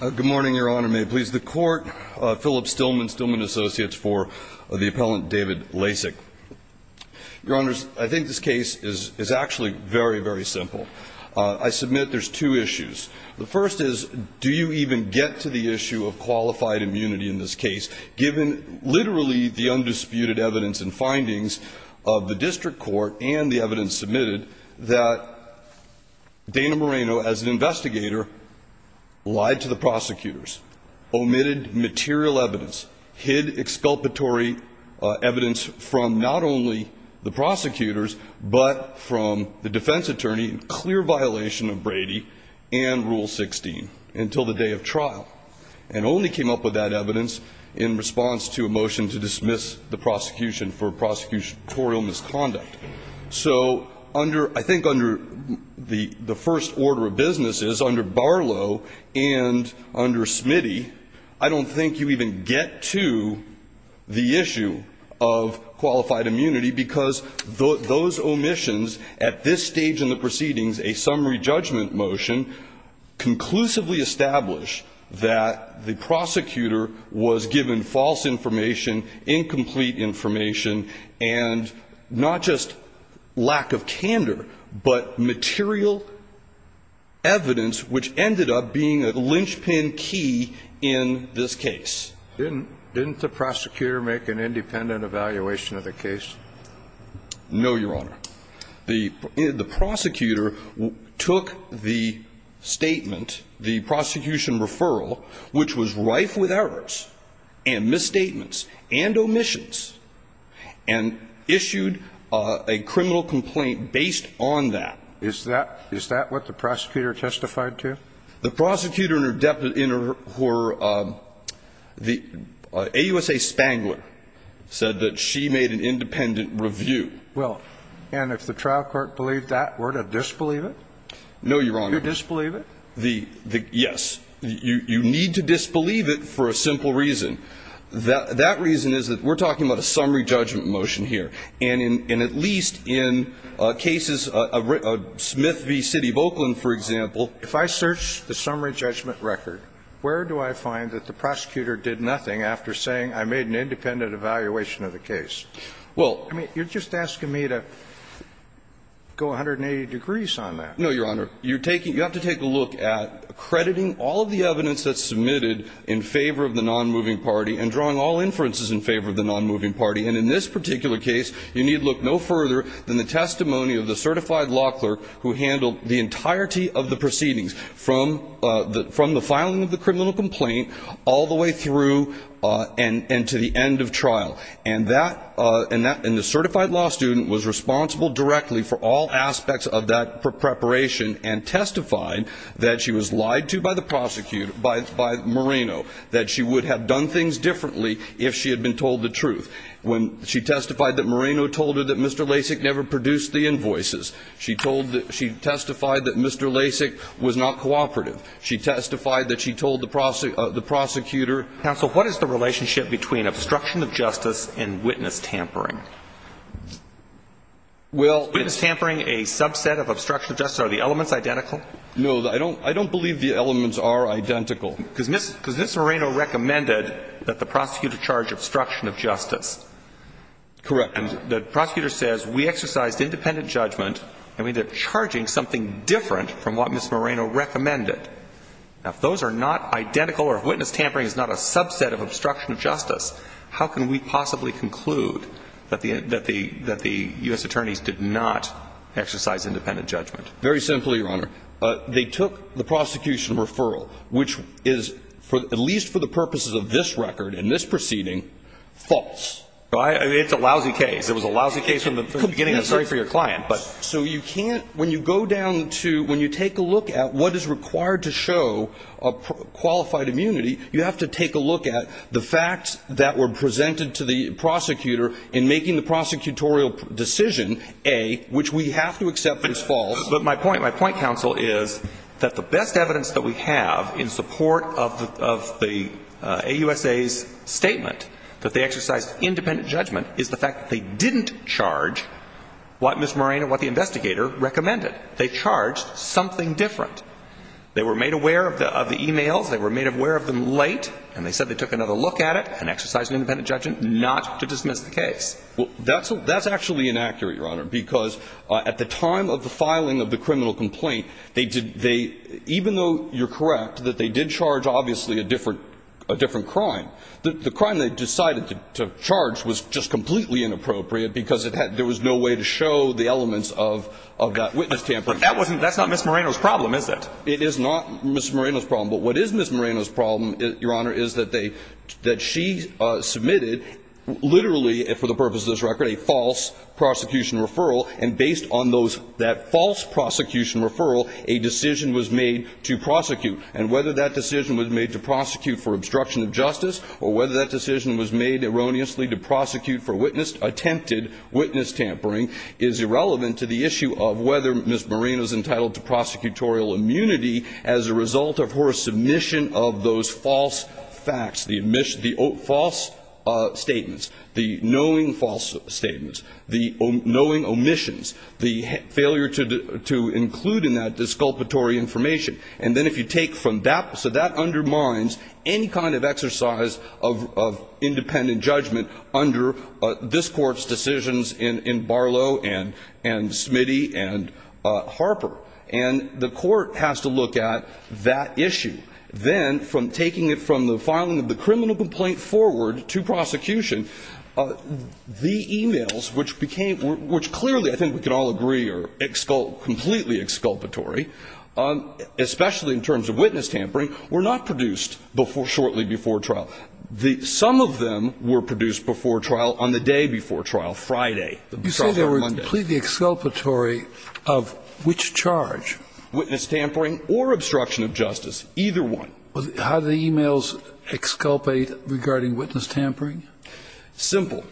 Good morning, Your Honor. May it please the Court? Philip Stillman, Stillman Associates for the Appellant David Lasic. Your Honors, I think this case is actually very, very simple. I submit there's two issues. The first is, do you even get to the issue of qualified immunity in this case, given literally the undisputed evidence and findings of the District Court and the evidence submitted that Dana Moreno, as an investigator, lied to the prosecutors, omitted material evidence, hid exculpatory evidence from not only the prosecutors but from the defense attorney, clear violation of Brady and Rule 16 until the day of trial, and only came up with that evidence in response to a motion to dismiss the prosecution for prosecutorial misconduct? So under – I think under the first order of business is, under Barlow and under Smitty, I don't think you even get to the issue of qualified immunity because those omissions at this stage in the proceedings, a summary judgment motion, conclusively establish that the prosecutor was given false information, incomplete information, and not just lack of candor, but material evidence which ended up being a linchpin key in this case. Didn't the prosecutor make an independent evaluation of the case? No, Your Honor. The prosecutor took the statement, the prosecution referral, which was rife with errors and misstatements and omissions, and issued a criminal complaint based on that. Is that – is that what the prosecutor testified to? The prosecutor and her deputy – the AUSA Spangler said that she made an independent review. Well, and if the trial court believed that, were to disbelieve it? No, Your Honor. Do you disbelieve it? The – yes. You need to disbelieve it for a simple reason. That reason is that we're talking about a summary judgment motion here. And in – and at least in cases – Smith v. City of Oakland, for example. If I search the summary judgment record, where do I find that the prosecutor did nothing after saying I made an independent evaluation of the case? Well – I mean, you're just asking me to go 180 degrees on that. No, Your Honor. You're taking – you have to take a look at accrediting all of the evidence that's submitted in favor of the nonmoving party and drawing all inferences in favor of the nonmoving party. And in this particular case, you need look no further than the testimony of the certified law clerk who handled the entirety of the proceedings from the – from the filing of the criminal complaint all the way through and to the end of trial. And that – and the certified law student was responsible directly for all aspects of that preparation and testified that she was lied to by the prosecutor – by Moreno, that she would have done things differently if she had been told the truth. When she testified that Moreno told her that Mr. Lasik never produced the invoices, she told – she testified that Mr. Lasik was not cooperative. She testified that she told the prosecutor – Well – Is witness tampering a subset of obstruction of justice? Are the elements identical? No. I don't – I don't believe the elements are identical. Because Ms. Moreno recommended that the prosecutor charge obstruction of justice. Correct. And the prosecutor says we exercised independent judgment and we ended up charging something different from what Ms. Moreno recommended. Now, if those are not identical or if witness tampering is not a subset of obstruction of justice, how can we possibly conclude that the U.S. attorneys did not exercise independent judgment? Very simply, Your Honor, they took the prosecution referral, which is, at least for the purposes of this record and this proceeding, false. It's a lousy case. It was a lousy case from the beginning. I'm sorry for your client. So you can't – when you go down to – when you take a look at what is required to show a qualified immunity, you have to take a look at the facts that were presented to the prosecutor in making the prosecutorial decision, A, which we have to accept as false. But my point – my point, counsel, is that the best evidence that we have in support of the – of the – AUSA's statement that they exercised independent judgment is the fact that they didn't charge what Ms. Moreno, what the investigator, recommended. They charged something different. They were made aware of the – of the e-mails. They were made aware of them late. And they said they took another look at it and exercised independent judgment not to dismiss the case. Well, that's – that's actually inaccurate, Your Honor, because at the time of the filing of the criminal complaint, they did – they – even though you're correct that they did charge obviously a different – a different crime, the crime they decided to charge was just completely inappropriate because it had – there was no way to prove that they had attempted witness tampering. But that wasn't – that's not Ms. Moreno's problem, is it? It is not Ms. Moreno's problem. But what is Ms. Moreno's problem, Your Honor, is that they – that she submitted literally, for the purpose of this record, a false prosecution referral. And based on those – that false prosecution referral, a decision was made to prosecute. And whether that decision was made to prosecute for obstruction of justice or whether that decision was made erroneously to prosecute for witnessed attempted witness tampering is irrelevant to the issue of whether Ms. Moreno is entitled to prosecutorial immunity as a result of her submission of those false facts, the admission – the false statements, the knowing false statements, the knowing omissions, the failure to include in that disculpatory information. And then if you take from that – so that undermines any kind of exercise of independent judgment under this Court's decisions in Barlow and Smitty and Harper. And the Court has to look at that issue. Then, from taking it from the filing of the criminal complaint forward to prosecution, the e-mails, which became – which clearly I think we can all agree are completely exculpatory, especially in terms of witness tampering, were not produced before – shortly before trial. The – some of them were produced before trial on the day before trial, Friday. The trial on Monday. You say they were completely exculpatory of which charge? Witness tampering or obstruction of justice. Either one. How do the e-mails exculpate regarding witness tampering? Simple.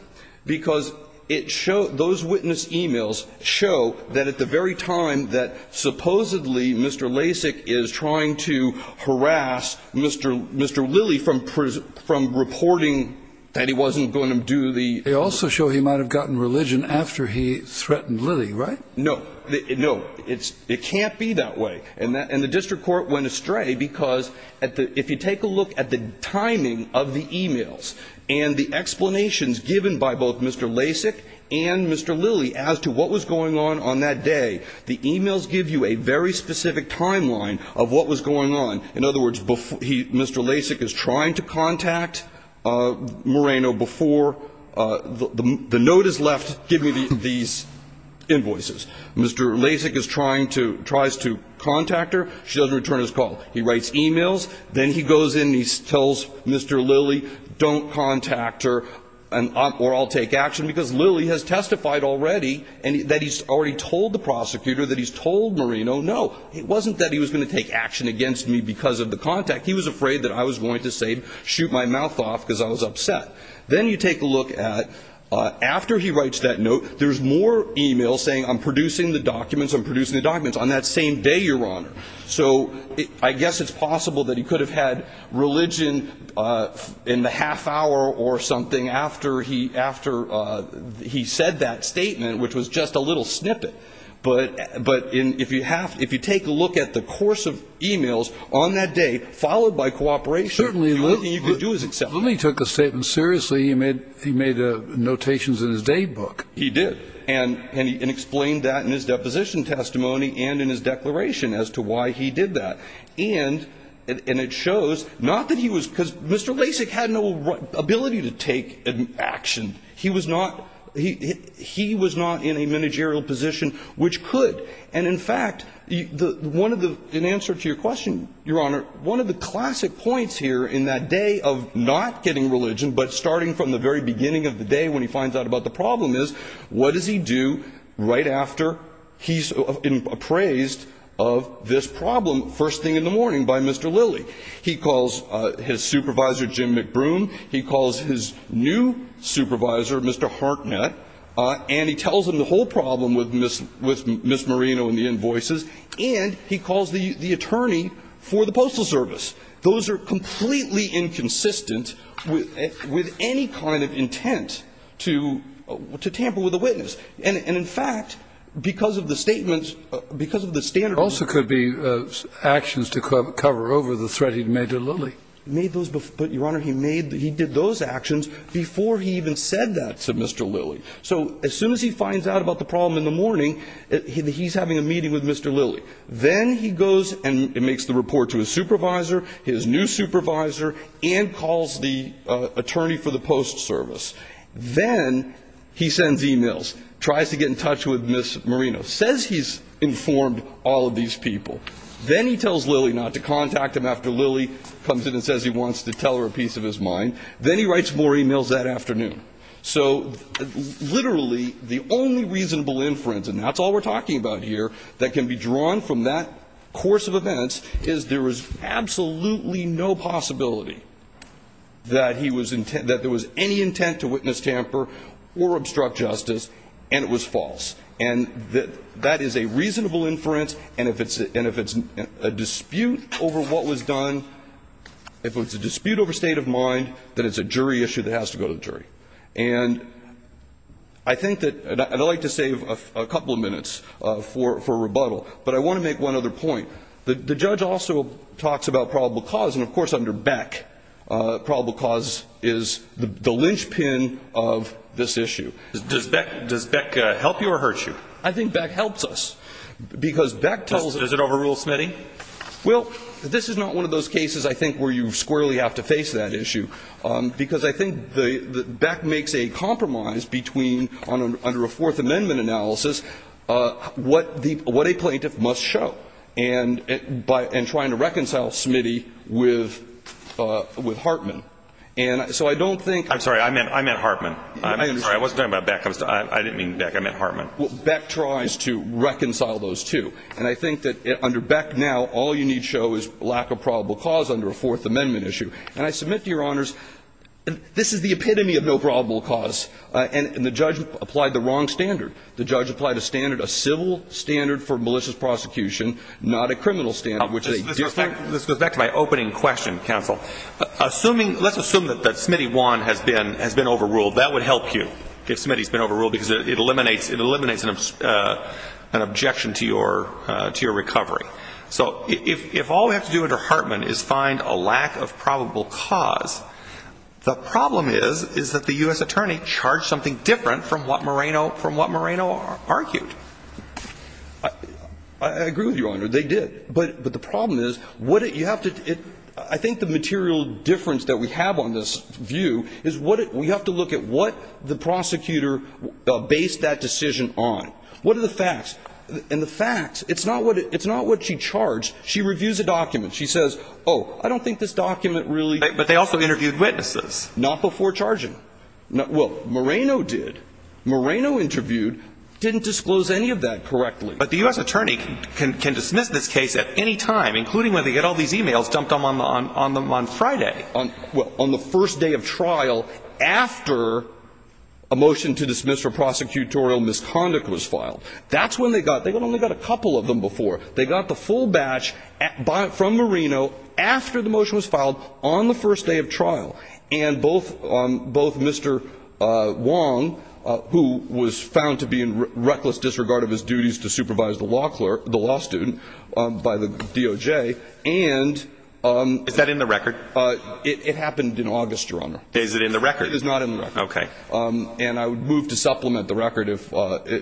Because it – those witness e-mails show that at the very time that supposedly Mr. Lasik is trying to harass Mr. – Mr. Lilly from – from reporting that he wasn't going to do the – They also show he might have gotten religion after he threatened Lilly, right? No. No. It's – it can't be that way. And the district court went astray because at the – if you take a look at the timing of the e-mails and the explanations given by both Mr. Lasik and Mr. Lilly as to what was going on on that day, the e-mails give you a very specific timeline of what was going on. In other words, before he – Mr. Lasik is trying to contact Moreno before – the note is left giving me these invoices. Mr. Lasik is trying to – tries to contact her. She doesn't return his call. He writes e-mails. Then he goes in and he tells Mr. Lilly, don't contact her or I'll take action because already and that he's already told the prosecutor that he's told Moreno no. It wasn't that he was going to take action against me because of the contact. He was afraid that I was going to say – shoot my mouth off because I was upset. Then you take a look at – after he writes that note, there's more e-mails saying I'm producing the documents, I'm producing the documents on that same day, Your Honor. So I guess it's possible that he could have had religion in the half hour or something after he – after he said that statement, which was just a little snippet. But in – if you have – if you take a look at the course of e-mails on that day, followed by cooperation – Certainly. Lilly took the statement seriously. He made – he made notations in his day book. He did. And explained that in his deposition testimony and in his declaration as to why he did that. And it shows not that he was – because Mr. Lasik had no ability to take action. He was not – he was not in a managerial position which could. And in fact, the – one of the – in answer to your question, Your Honor, one of the classic points here in that day of not getting religion but starting from the very beginning of the day when he finds out about the problem is what does he do right after he's appraised of this problem first thing in the morning by Mr. Lilly? He calls his supervisor, Jim McBroom. He calls his new supervisor, Mr. Hartnett. And he tells him the whole problem with Ms. Marino and the invoices. And he calls the attorney for the Postal Service. Those are completely inconsistent with any kind of intent to tamper with a witness. And in fact, because of the statements – because of the standard rules. Also could be actions to cover over the threat he'd made to Lilly. Made those – but, Your Honor, he made – he did those actions before he even said that to Mr. Lilly. So as soon as he finds out about the problem in the morning, he's having a meeting with Mr. Lilly. Then he goes and makes the report to his supervisor, his new supervisor, and calls the attorney for the Postal Service. Then he sends e-mails. Tries to get in touch with Ms. Marino. Says he's informed all of these people. Then he tells Lilly not to contact him after Lilly comes in and says he wants to tell her a piece of his mind. Then he writes more e-mails that afternoon. So literally the only reasonable inference, and that's all we're talking about here, that can be drawn from that course of events is there is absolutely no possibility that he was – that there was any intent to witness tamper or obstruct justice and it was false. And that is a reasonable inference. And if it's a dispute over what was done, if it's a dispute over state of mind, then it's a jury issue that has to go to the jury. And I think that – and I'd like to save a couple of minutes for rebuttal. But I want to make one other point. The judge also talks about probable cause. And, of course, under Beck, probable cause is the linchpin of this issue. Does Beck help you or hurt you? I think Beck helps us. Because Beck tells us – Is it overrule Smitty? Well, this is not one of those cases I think where you squarely have to face that issue. Because I think Beck makes a compromise between, under a Fourth Amendment analysis, what the – what a plaintiff must show, and by – and trying to reconcile Smitty with – with Hartman. And so I don't think – I'm sorry. I meant – I meant Hartman. I'm sorry. I wasn't talking about Beck. I didn't mean Beck. I meant Hartman. Beck tries to reconcile those two. And I think that under Beck now, all you need show is lack of probable cause under a Fourth Amendment issue. And I submit to Your Honors, this is the epitome of no probable cause. And the judge applied the wrong standard. The judge applied a standard, a civil standard for malicious prosecution, not a criminal standard, which is a – Let's go back to my opening question, counsel. Assuming – let's assume that Smitty 1 has been – has been overruled. That would help you, if Smitty's been overruled, because it eliminates – it eliminates an objection to your – to your recovery. So if all we have to do under Hartman is find a lack of probable cause, the problem is, is that the U.S. attorney charged something different from what Moreno – from what Moreno argued. I – I agree with you, Your Honor. They did. But – but the problem is, what you have to – I think the material difference that we have on this view is what – we have to look at what the prosecutor based that decision on. What are the facts? And the facts – it's not what – it's not what she charged. She reviews a document. She says, oh, I don't think this document really – But they also interviewed witnesses. Not before charging. Well, Moreno did. Moreno interviewed. Didn't disclose any of that correctly. But the U.S. attorney can – can dismiss this case at any time, including when they get all these e-mails dumped on – on Friday. Well, on the first day of trial, after a motion to dismiss for prosecutorial misconduct was filed. That's when they got – they only got a couple of them before. They got the full batch from Moreno after the motion was filed on the first day of trial. And both – both Mr. Wong, who was found to be in reckless disregard of his duties to supervise the law – the law student by the DOJ, and – Is that in the record? It happened in August, Your Honor. Is it in the record? It is not in the record. Okay. And I would move to supplement the record if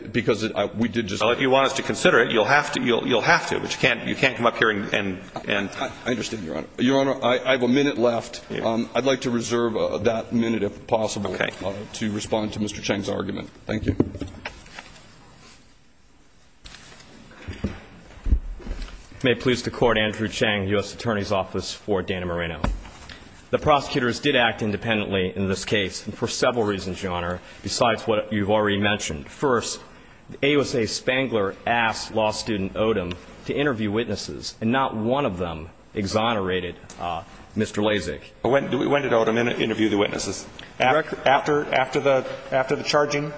– because we did just – Well, if you want us to consider it, you'll have to. You'll have to. But you can't – you can't come up here and – I understand, Your Honor. Your Honor, I have a minute left. I'd like to reserve that minute, if possible, to respond to Mr. Chang's argument. Thank you. May it please the Court, Andrew Chang, U.S. Attorney's Office for Dana Moreno. The prosecutors did act independently in this case for several reasons, Your Honor, besides what you've already mentioned. First, AUSA Spangler asked law student Odom to interview witnesses, and not one of them exonerated Mr. Lasik. When did Odom interview the witnesses? After the charging?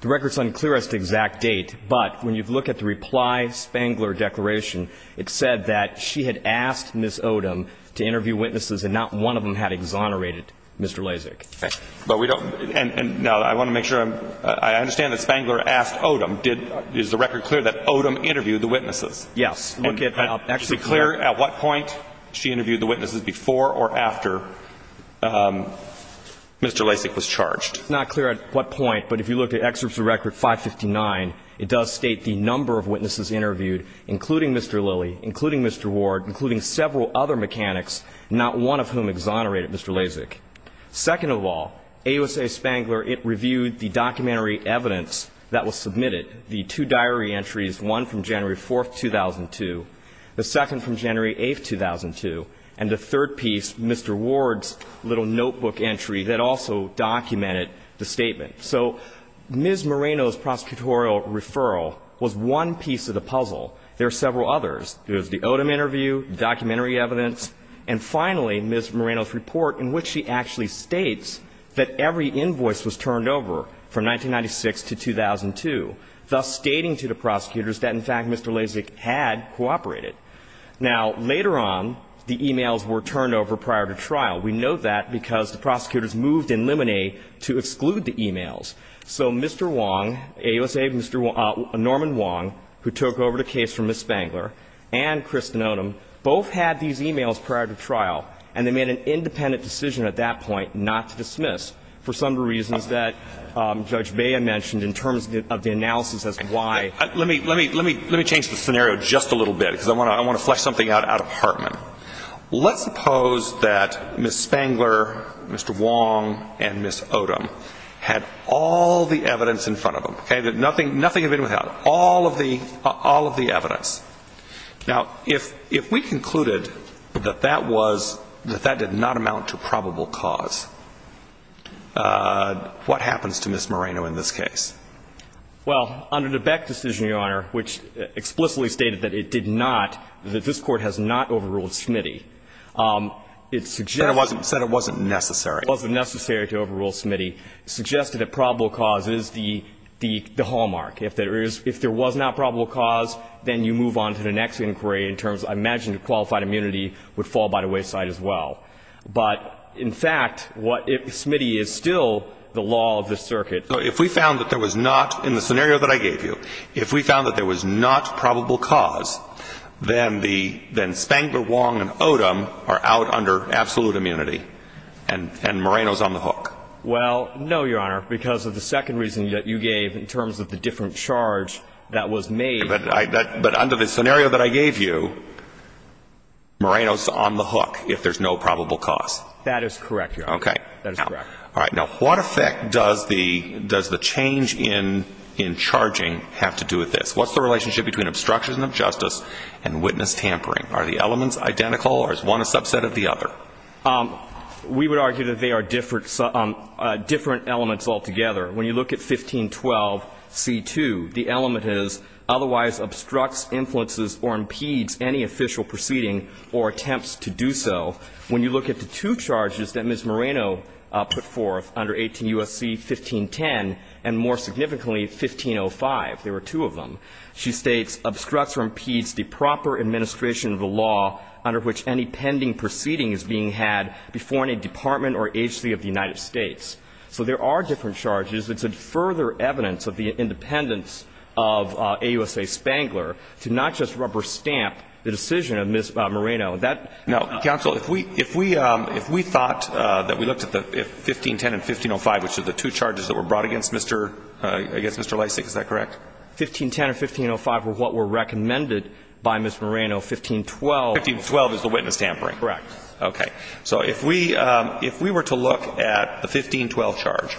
The record's unclear as to the exact date, but when you look at the reply, Spangler declaration, it said that she had asked Ms. Odom to interview witnesses, and not one of them had exonerated Mr. Lasik. Okay. But we don't – now, I want to make sure I'm – I understand that Spangler asked Odom, did – is the record clear that Odom interviewed the witnesses? Yes. And is it clear at what point she interviewed the witnesses before or after Mr. Lasik was charged? It's not clear at what point, but if you look at Excerpts of Record 559, it does state the number of witnesses interviewed, including Mr. Lilly, including Mr. Ward, including several other mechanics, not one of whom exonerated Mr. Lasik. Second of all, AUSA Spangler, it reviewed the documentary evidence that was submitted, the two diary entries, one from January 4th, 2002, the second from January 8th, 2002, and the third piece, Mr. Ward's little notebook entry that also documented the statement. So Ms. Moreno's prosecutorial referral was one piece of the puzzle. There are several others. There's the Odom interview, the documentary evidence, and finally, Ms. Moreno's turned over from 1996 to 2002, thus stating to the prosecutors that in fact Mr. Lasik had cooperated. Now, later on, the e-mails were turned over prior to trial. We note that because the prosecutors moved in limine to exclude the e-mails. So Mr. Wong, AUSA Norman Wong, who took over the case from Ms. Spangler, and Kristen Odom both had these e-mails prior to trial, and they made an independent decision at that point not to dismiss for some of the reasons that Judge Baya mentioned in terms of the analysis as to why. Let me change the scenario just a little bit, because I want to flesh something out out of Hartman. Let's suppose that Ms. Spangler, Mr. Wong, and Ms. Odom had all the evidence in front of them, okay, that nothing had been without, all of the evidence. Now, if we concluded that that was, that that did not amount to probable cause, what happens to Ms. Moreno in this case? Well, under the Beck decision, Your Honor, which explicitly stated that it did not, that this Court has not overruled Smitty, it suggests that it wasn't necessary to overrule Smitty, suggested that probable cause is the hallmark. If there is, if there was not probable cause, then you move on to the next inquiry in terms of, I imagine, qualified immunity would fall by the wayside as well. But, in fact, what if Smitty is still the law of the circuit? If we found that there was not, in the scenario that I gave you, if we found that there was not probable cause, then the, then Spangler, Wong, and Odom are out under absolute immunity, and Moreno's on the hook. Well, no, Your Honor, because of the second reason that you gave in terms of the different charge that was made. But I, but under the scenario that I gave you, Moreno's on the hook if there's no probable cause. That is correct, Your Honor. Okay. That is correct. All right. Now, what effect does the, does the change in, in charging have to do with this? What's the relationship between obstruction of justice and witness tampering? Are the elements identical, or is one a subset of the other? We would argue that they are different, different elements altogether. When you look at 1512c2, the element is, otherwise obstructs, influences, or impedes any official proceeding or attempts to do so. When you look at the two charges that Ms. Moreno put forth under 18 U.S.C. 1510 and, more significantly, 1505, there were two of them, she states, obstructs or impedes the proper administration of the law under which any pending proceeding is being had before any department or agency of the United States. So there are different charges. It's a further evidence of the independence of AUSA Spangler to not just rubber stamp the decision of Ms. Moreno. Now, counsel, if we, if we, if we thought that we looked at the 1510 and 1505, which are the two charges that were brought against Mr., against Mr. Lysak, is that correct? 1510 and 1505 were what were recommended by Ms. Moreno. 1512. 1512 is the witness tampering. Correct. Okay. So if we, if we were to look at the 1512 charge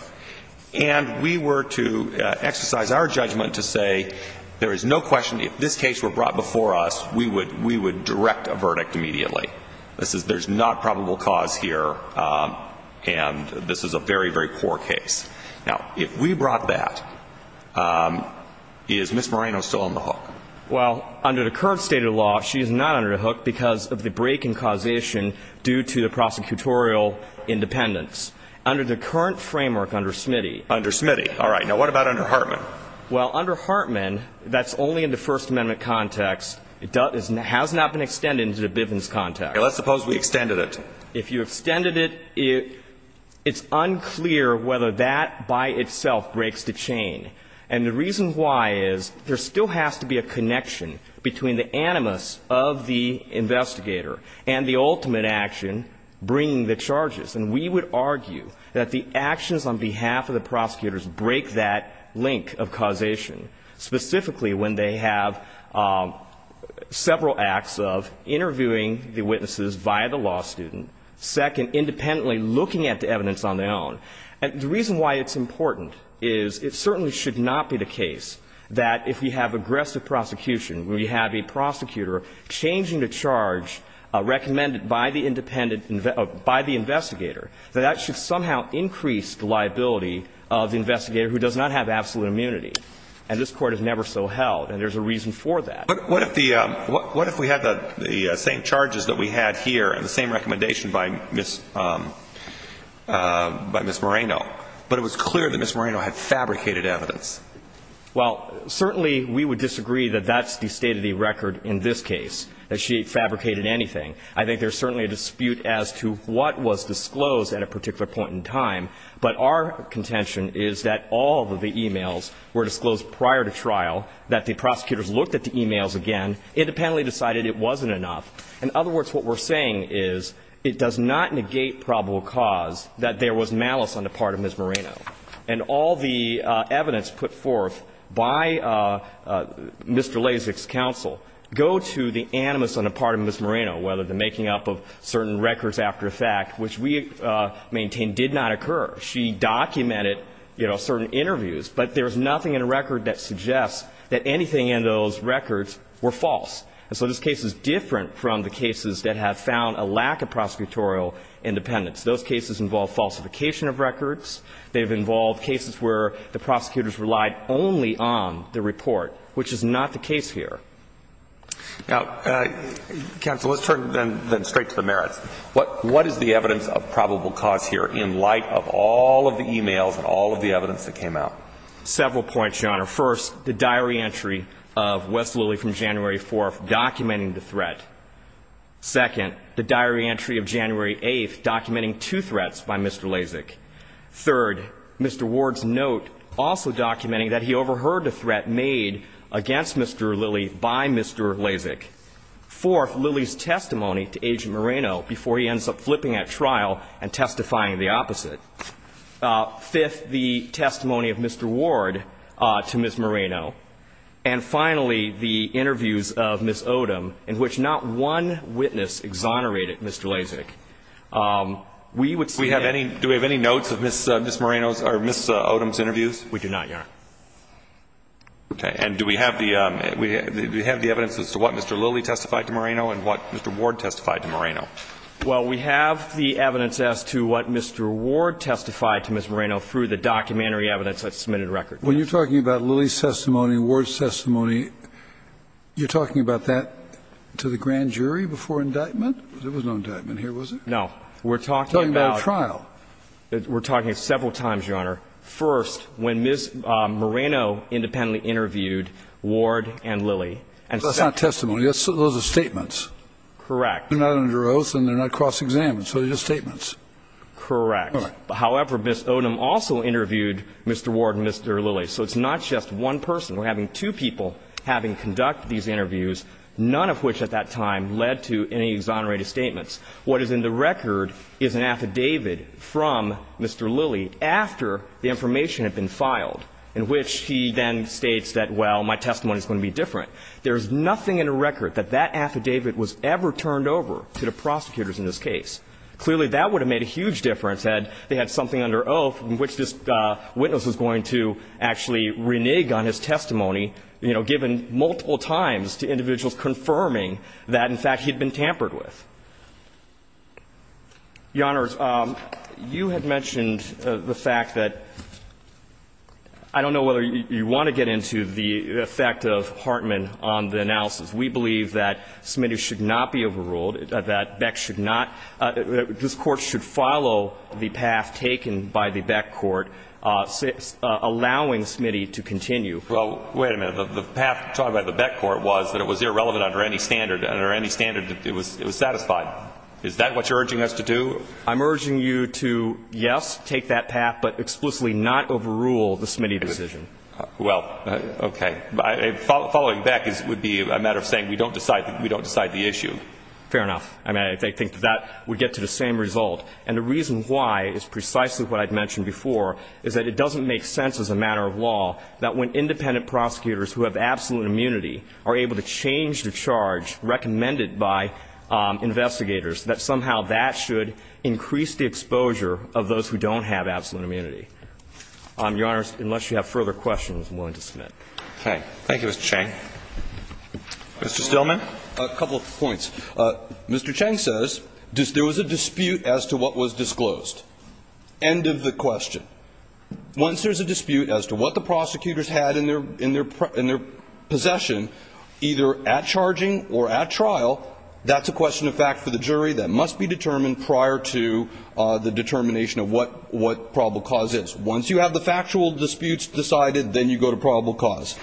and we were to exercise our judgment to say there is no question, if this case were brought before us, we would, we would direct a verdict immediately. This is, there's not probable cause here, and this is a very, very poor case. Now, if we brought that, is Ms. Moreno still on the hook? Well, under the current state of the law, she is not under the hook because of the break in causation due to the prosecutorial independence. Under the current framework under Smitty. Under Smitty. All right. Now, what about under Hartman? Well, under Hartman, that's only in the First Amendment context. It has not been extended into the Bivens context. Let's suppose we extended it. If you extended it, it's unclear whether that by itself breaks the chain. And the reason why is there still has to be a connection between the animus of the investigator and the ultimate action bringing the charges. And we would argue that the actions on behalf of the prosecutors break that link of causation, specifically when they have several acts of interviewing the witnesses via the law student, second, independently looking at the evidence on their own. And the reason why it's important is it certainly should not be the case that if we have aggressive prosecution, we have a prosecutor changing the charge recommended by the independent, by the investigator, that that should somehow increase the liability of the investigator who does not have absolute immunity. And this Court has never so held. And there's a reason for that. But what if we had the same charges that we had here and the same recommendation by Ms. Moreno, but it was clear that Ms. Moreno had fabricated evidence? Well, certainly we would disagree that that's the state of the record in this case, that she fabricated anything. I think there's certainly a dispute as to what was disclosed at a particular point in time. But our contention is that all of the e-mails were disclosed prior to trial, that the prosecutors looked at the e-mails again, independently decided it wasn't enough. In other words, what we're saying is it does not negate probable cause that there was malice on the part of Ms. Moreno. And all the evidence put forth by Mr. Lasik's counsel go to the animus on the part of Ms. Moreno, whether the making up of certain records after the fact, which we maintain did not occur. She documented, you know, certain interviews. But there's nothing in a record that suggests that anything in those records were false. And so this case is different from the cases that have found a lack of prosecutorial independence. Those cases involve falsification of records. They've involved cases where the prosecutors relied only on the report, which is not the case here. Now, counsel, let's turn then straight to the merits. What is the evidence of probable cause here in light of all of the e-mails and all of the evidence that came out? Several points, Your Honor. First, the diary entry of Wes Lilley from January 4th documenting the threat. Second, the diary entry of January 8th documenting two threats by Mr. Lasik. Third, Mr. Ward's note also documenting that he overheard a threat made against Mr. Lilley by Mr. Lasik. Fourth, Lilley's testimony to Agent Moreno before he ends up flipping at trial and testifying the opposite. Fifth, the testimony of Mr. Ward to Ms. Moreno. And finally, the interviews of Ms. Odom, in which not one witness exonerated Mr. Lasik. We would say that any Do we have any notes of Ms. Moreno's or Ms. Odom's interviews? We do not, Your Honor. Okay. And do we have the evidence as to what Mr. Lilley testified to Moreno and what Mr. Ward testified to Moreno? Well, we have the evidence as to what Mr. Ward testified to Ms. Moreno through the documentary evidence that's submitted to record. When you're talking about Lilley's testimony, Ward's testimony, you're talking about that to the grand jury before indictment? There was no indictment here, was there? No. We're talking about a trial. We're talking about several times, Your Honor. First, when Ms. Moreno independently interviewed Ward and Lilley and said that That's not testimony. Those are statements. Correct. They're not under oath and they're not cross-examined. So they're just statements. Correct. However, Ms. Odom also interviewed Mr. Ward and Mr. Lilley. So it's not just one person. We're having two people having conducted these interviews, none of which at that time led to any exonerated statements. What is in the record is an affidavit from Mr. Lilley after the information had been filed, in which he then states that, well, my testimony is going to be different. There's nothing in the record that that affidavit was ever turned over to the prosecutors in this case. Clearly, that would have made a huge difference had they had something under oath in which this witness was going to actually renege on his testimony, you know, given multiple times to individuals confirming that, in fact, he had been tampered with. Your Honors, you had mentioned the fact that I don't know whether you want to get into the effect of Hartman on the analysis. We believe that Smitty should not be overruled, that Beck should not. This Court should follow the path taken by the Beck court, allowing Smitty to continue. Well, wait a minute. The path taken by the Beck court was that it was irrelevant under any standard and under any standard it was satisfied. Is that what you're urging us to do? I'm urging you to, yes, take that path, but explicitly not overrule the Smitty decision. Well, okay. Following Beck would be a matter of saying we don't decide the issue. Fair enough. I mean, I think that would get to the same result. And the reason why is precisely what I mentioned before, is that it doesn't make sense as a matter of law that when independent prosecutors who have absolute immunity are able to change the charge recommended by investigators, that somehow that should increase the exposure of those who don't have absolute immunity. Your Honor, unless you have further questions, I'm willing to submit. Okay. Thank you, Mr. Cheng. Mr. Stillman. A couple of points. Mr. Cheng says there was a dispute as to what was disclosed. End of the question. Once there's a dispute as to what the prosecutors had in their possession, either at charging or at trial, that's a question of fact for the jury that must be determined prior to the determination of what probable cause is. Once you have the factual disputes decided, then you go to probable cause.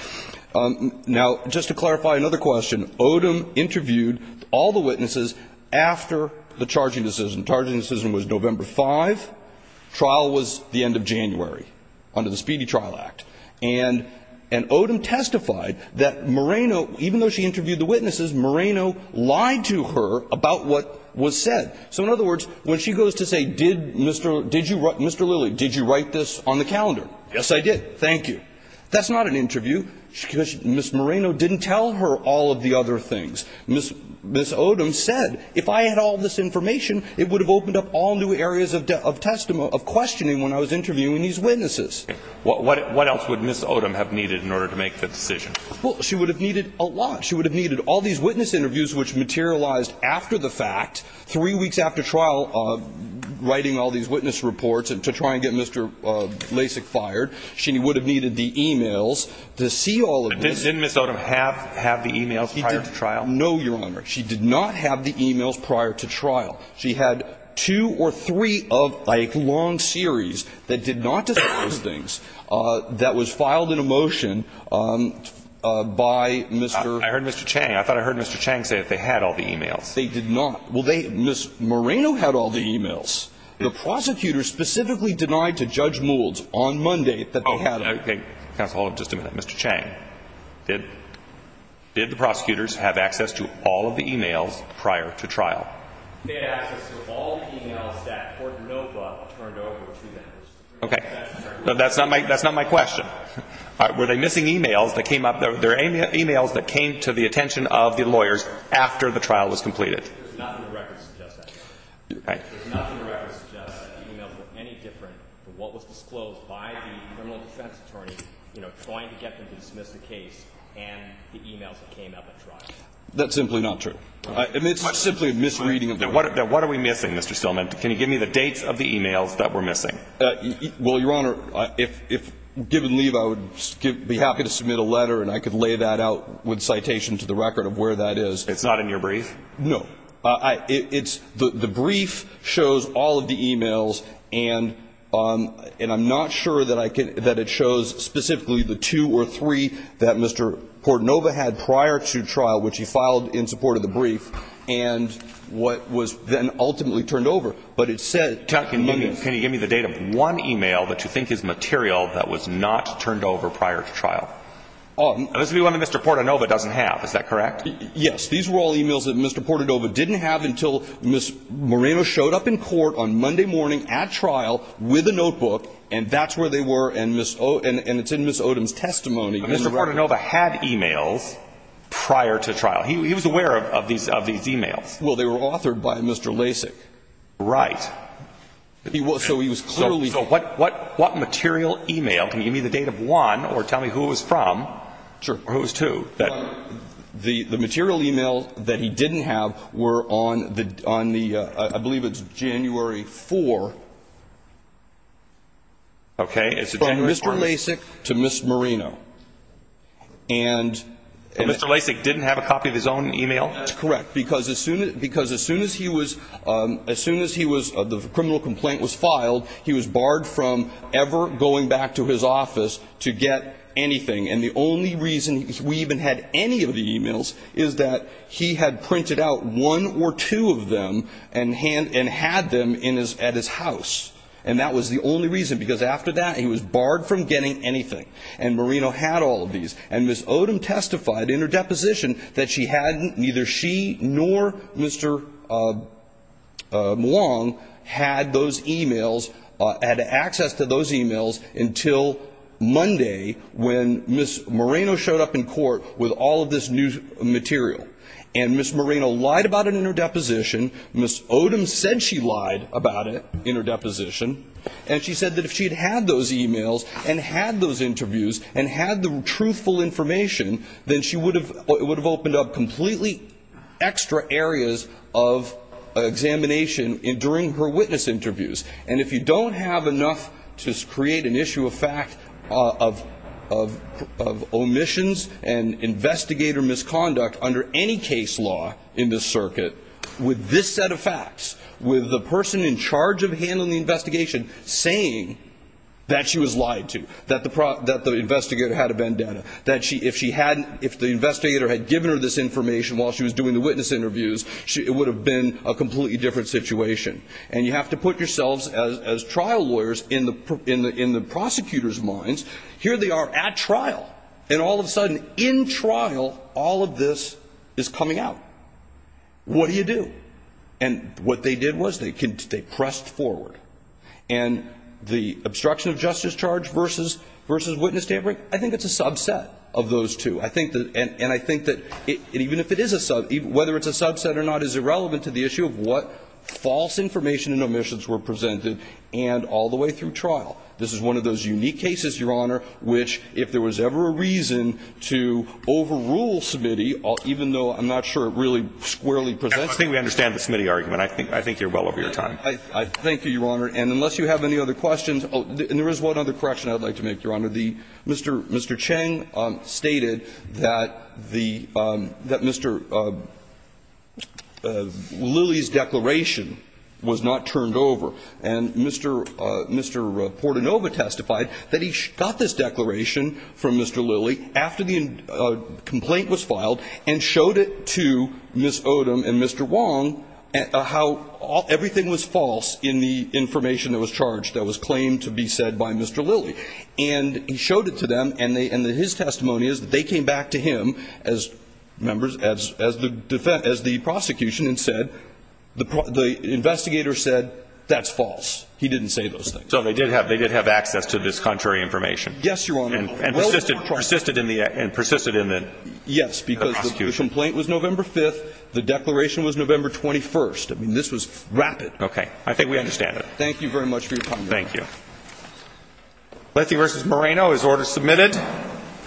Now, just to clarify another question, Odom interviewed all the witnesses after the charging decision. The charging decision was November 5. Trial was the end of January under the Speedy Trial Act. And Odom testified that Moreno, even though she interviewed the witnesses, Moreno lied to her about what was said. So, in other words, when she goes to say, Mr. Lilly, did you write this on the calendar? Yes, I did. Thank you. That's not an interview. Ms. Moreno didn't tell her all of the other things. Ms. Odom said, if I had all this information, it would have opened up all new areas of questioning when I was interviewing these witnesses. What else would Ms. Odom have needed in order to make the decision? Well, she would have needed a lot. She would have needed all these witness interviews which materialized after the fact, three weeks after trial, writing all these witness reports to try and get Mr. Lasik fired. She would have needed the e-mails to see all of this. Didn't Ms. Odom have the e-mails prior to trial? No, Your Honor. She did not have the e-mails prior to trial. She had two or three of, like, long series that did not discuss those things that was filed in a motion by Mr. ---- I heard Mr. Chang. I thought I heard Mr. Chang say that they had all the e-mails. They did not. Well, they ---- Ms. Moreno had all the e-mails. The prosecutor specifically denied to Judge Moulds on Monday that they had them. Okay. Counsel, hold on just a minute. Mr. Chang, did the prosecutors have access to all of the e-mails prior to trial? They had access to all of the e-mails that Court of Nopa turned over to them. Okay. That's not my question. Were they missing e-mails that came up? There were e-mails that came to the attention of the lawyers after the trial was completed. There's nothing in the record that suggests that. Okay. There's nothing in the record that suggests that the e-mails were any different from what was disclosed by the criminal defense attorney, you know, trying to get them to dismiss the case and the e-mails that came up at trial. That's simply not true. It's simply a misreading of the record. Then what are we missing, Mr. Stillman? Can you give me the dates of the e-mails that were missing? Well, Your Honor, if given leave I would be happy to submit a letter and I could lay that out with citation to the record of where that is. It's not in your brief? No. The brief shows all of the e-mails, and I'm not sure that it shows specifically the two or three that Mr. Portanova had prior to trial, which he filed in support of the brief, and what was then ultimately turned over. But it said Monday. Can you give me the date of one e-mail that you think is material that was not turned over prior to trial? This would be one that Mr. Portanova doesn't have, is that correct? Yes. These were all e-mails that Mr. Portanova didn't have until Ms. Moreno showed up in court on Monday morning at trial with a notebook, and that's where they were, and it's in Ms. Odom's testimony. But Mr. Portanova had e-mails prior to trial. He was aware of these e-mails. Well, they were authored by Mr. Lasik. Right. So he was clearly. So what material e-mail? Can you give me the date of one or tell me who it was from or who it was to? The material e-mail that he didn't have were on the, I believe it's January 4th. Okay. From Mr. Lasik to Ms. Moreno. And Mr. Lasik didn't have a copy of his own e-mail? That's correct. Because as soon as he was, as soon as he was, the criminal complaint was filed, he was barred from ever going back to his office to get anything. And the only reason we even had any of the e-mails is that he had printed out one or two of them and had them at his house. And that was the only reason, because after that he was barred from getting anything. And Moreno had all of these. And Ms. Odom testified in her deposition that she hadn't, neither she nor Mr. Mulong had those e-mails, had access to those e-mails until Monday when Ms. Moreno showed up in court with all of this new material. And Ms. Moreno lied about it in her deposition. Ms. Odom said she lied about it in her deposition. And she said that if she had had those e-mails and had those interviews and had the truthful information, then she would have opened up completely extra areas of examination during her witness interviews. And if you don't have enough to create an issue of fact of omissions and investigator misconduct under any case law in this circuit, with this set of facts, with the person in charge of handling the investigation saying that she was lied to, that the investigator had a bandana, that if the investigator had given her this information while she was doing the witness interviews, it would have been a completely different situation. And you have to put yourselves as trial lawyers in the prosecutor's minds. Here they are at trial. And all of a sudden, in trial, all of this is coming out. What do you do? And what they did was they pressed forward. And the obstruction of justice charge versus witness tampering, I think it's a subset of those two. And I think that even if it is a subset, whether it's a subset or not is irrelevant to the issue of what false information and omissions were presented and all the way through trial. This is one of those unique cases, Your Honor, which, if there was ever a reason to overrule Smitty, even though I'm not sure it really squarely presents it. I think we understand the Smitty argument. I think you're well over your time. Thank you, Your Honor. And unless you have any other questions, and there is one other correction I would like to make, Your Honor. Mr. Cheng stated that the Mr. Lilly's declaration was not turned over. And Mr. Portanova testified that he got this declaration from Mr. Lilly after the complaint was filed and showed it to Ms. Odom and Mr. Wong how everything was false in the information that was charged that was claimed to be said by Mr. Lilly. And he showed it to them, and his testimony is that they came back to him, members, as the prosecution and said, the investigator said, that's false. He didn't say those things. So they did have access to this contrary information. Yes, Your Honor. And persisted in the prosecution. Yes, because the complaint was November 5th. The declaration was November 21st. I mean, this was rapid. Okay. I think we understand it. Thank you very much for your time, Your Honor. Thank you. Lethe v. Moreno is order submitted.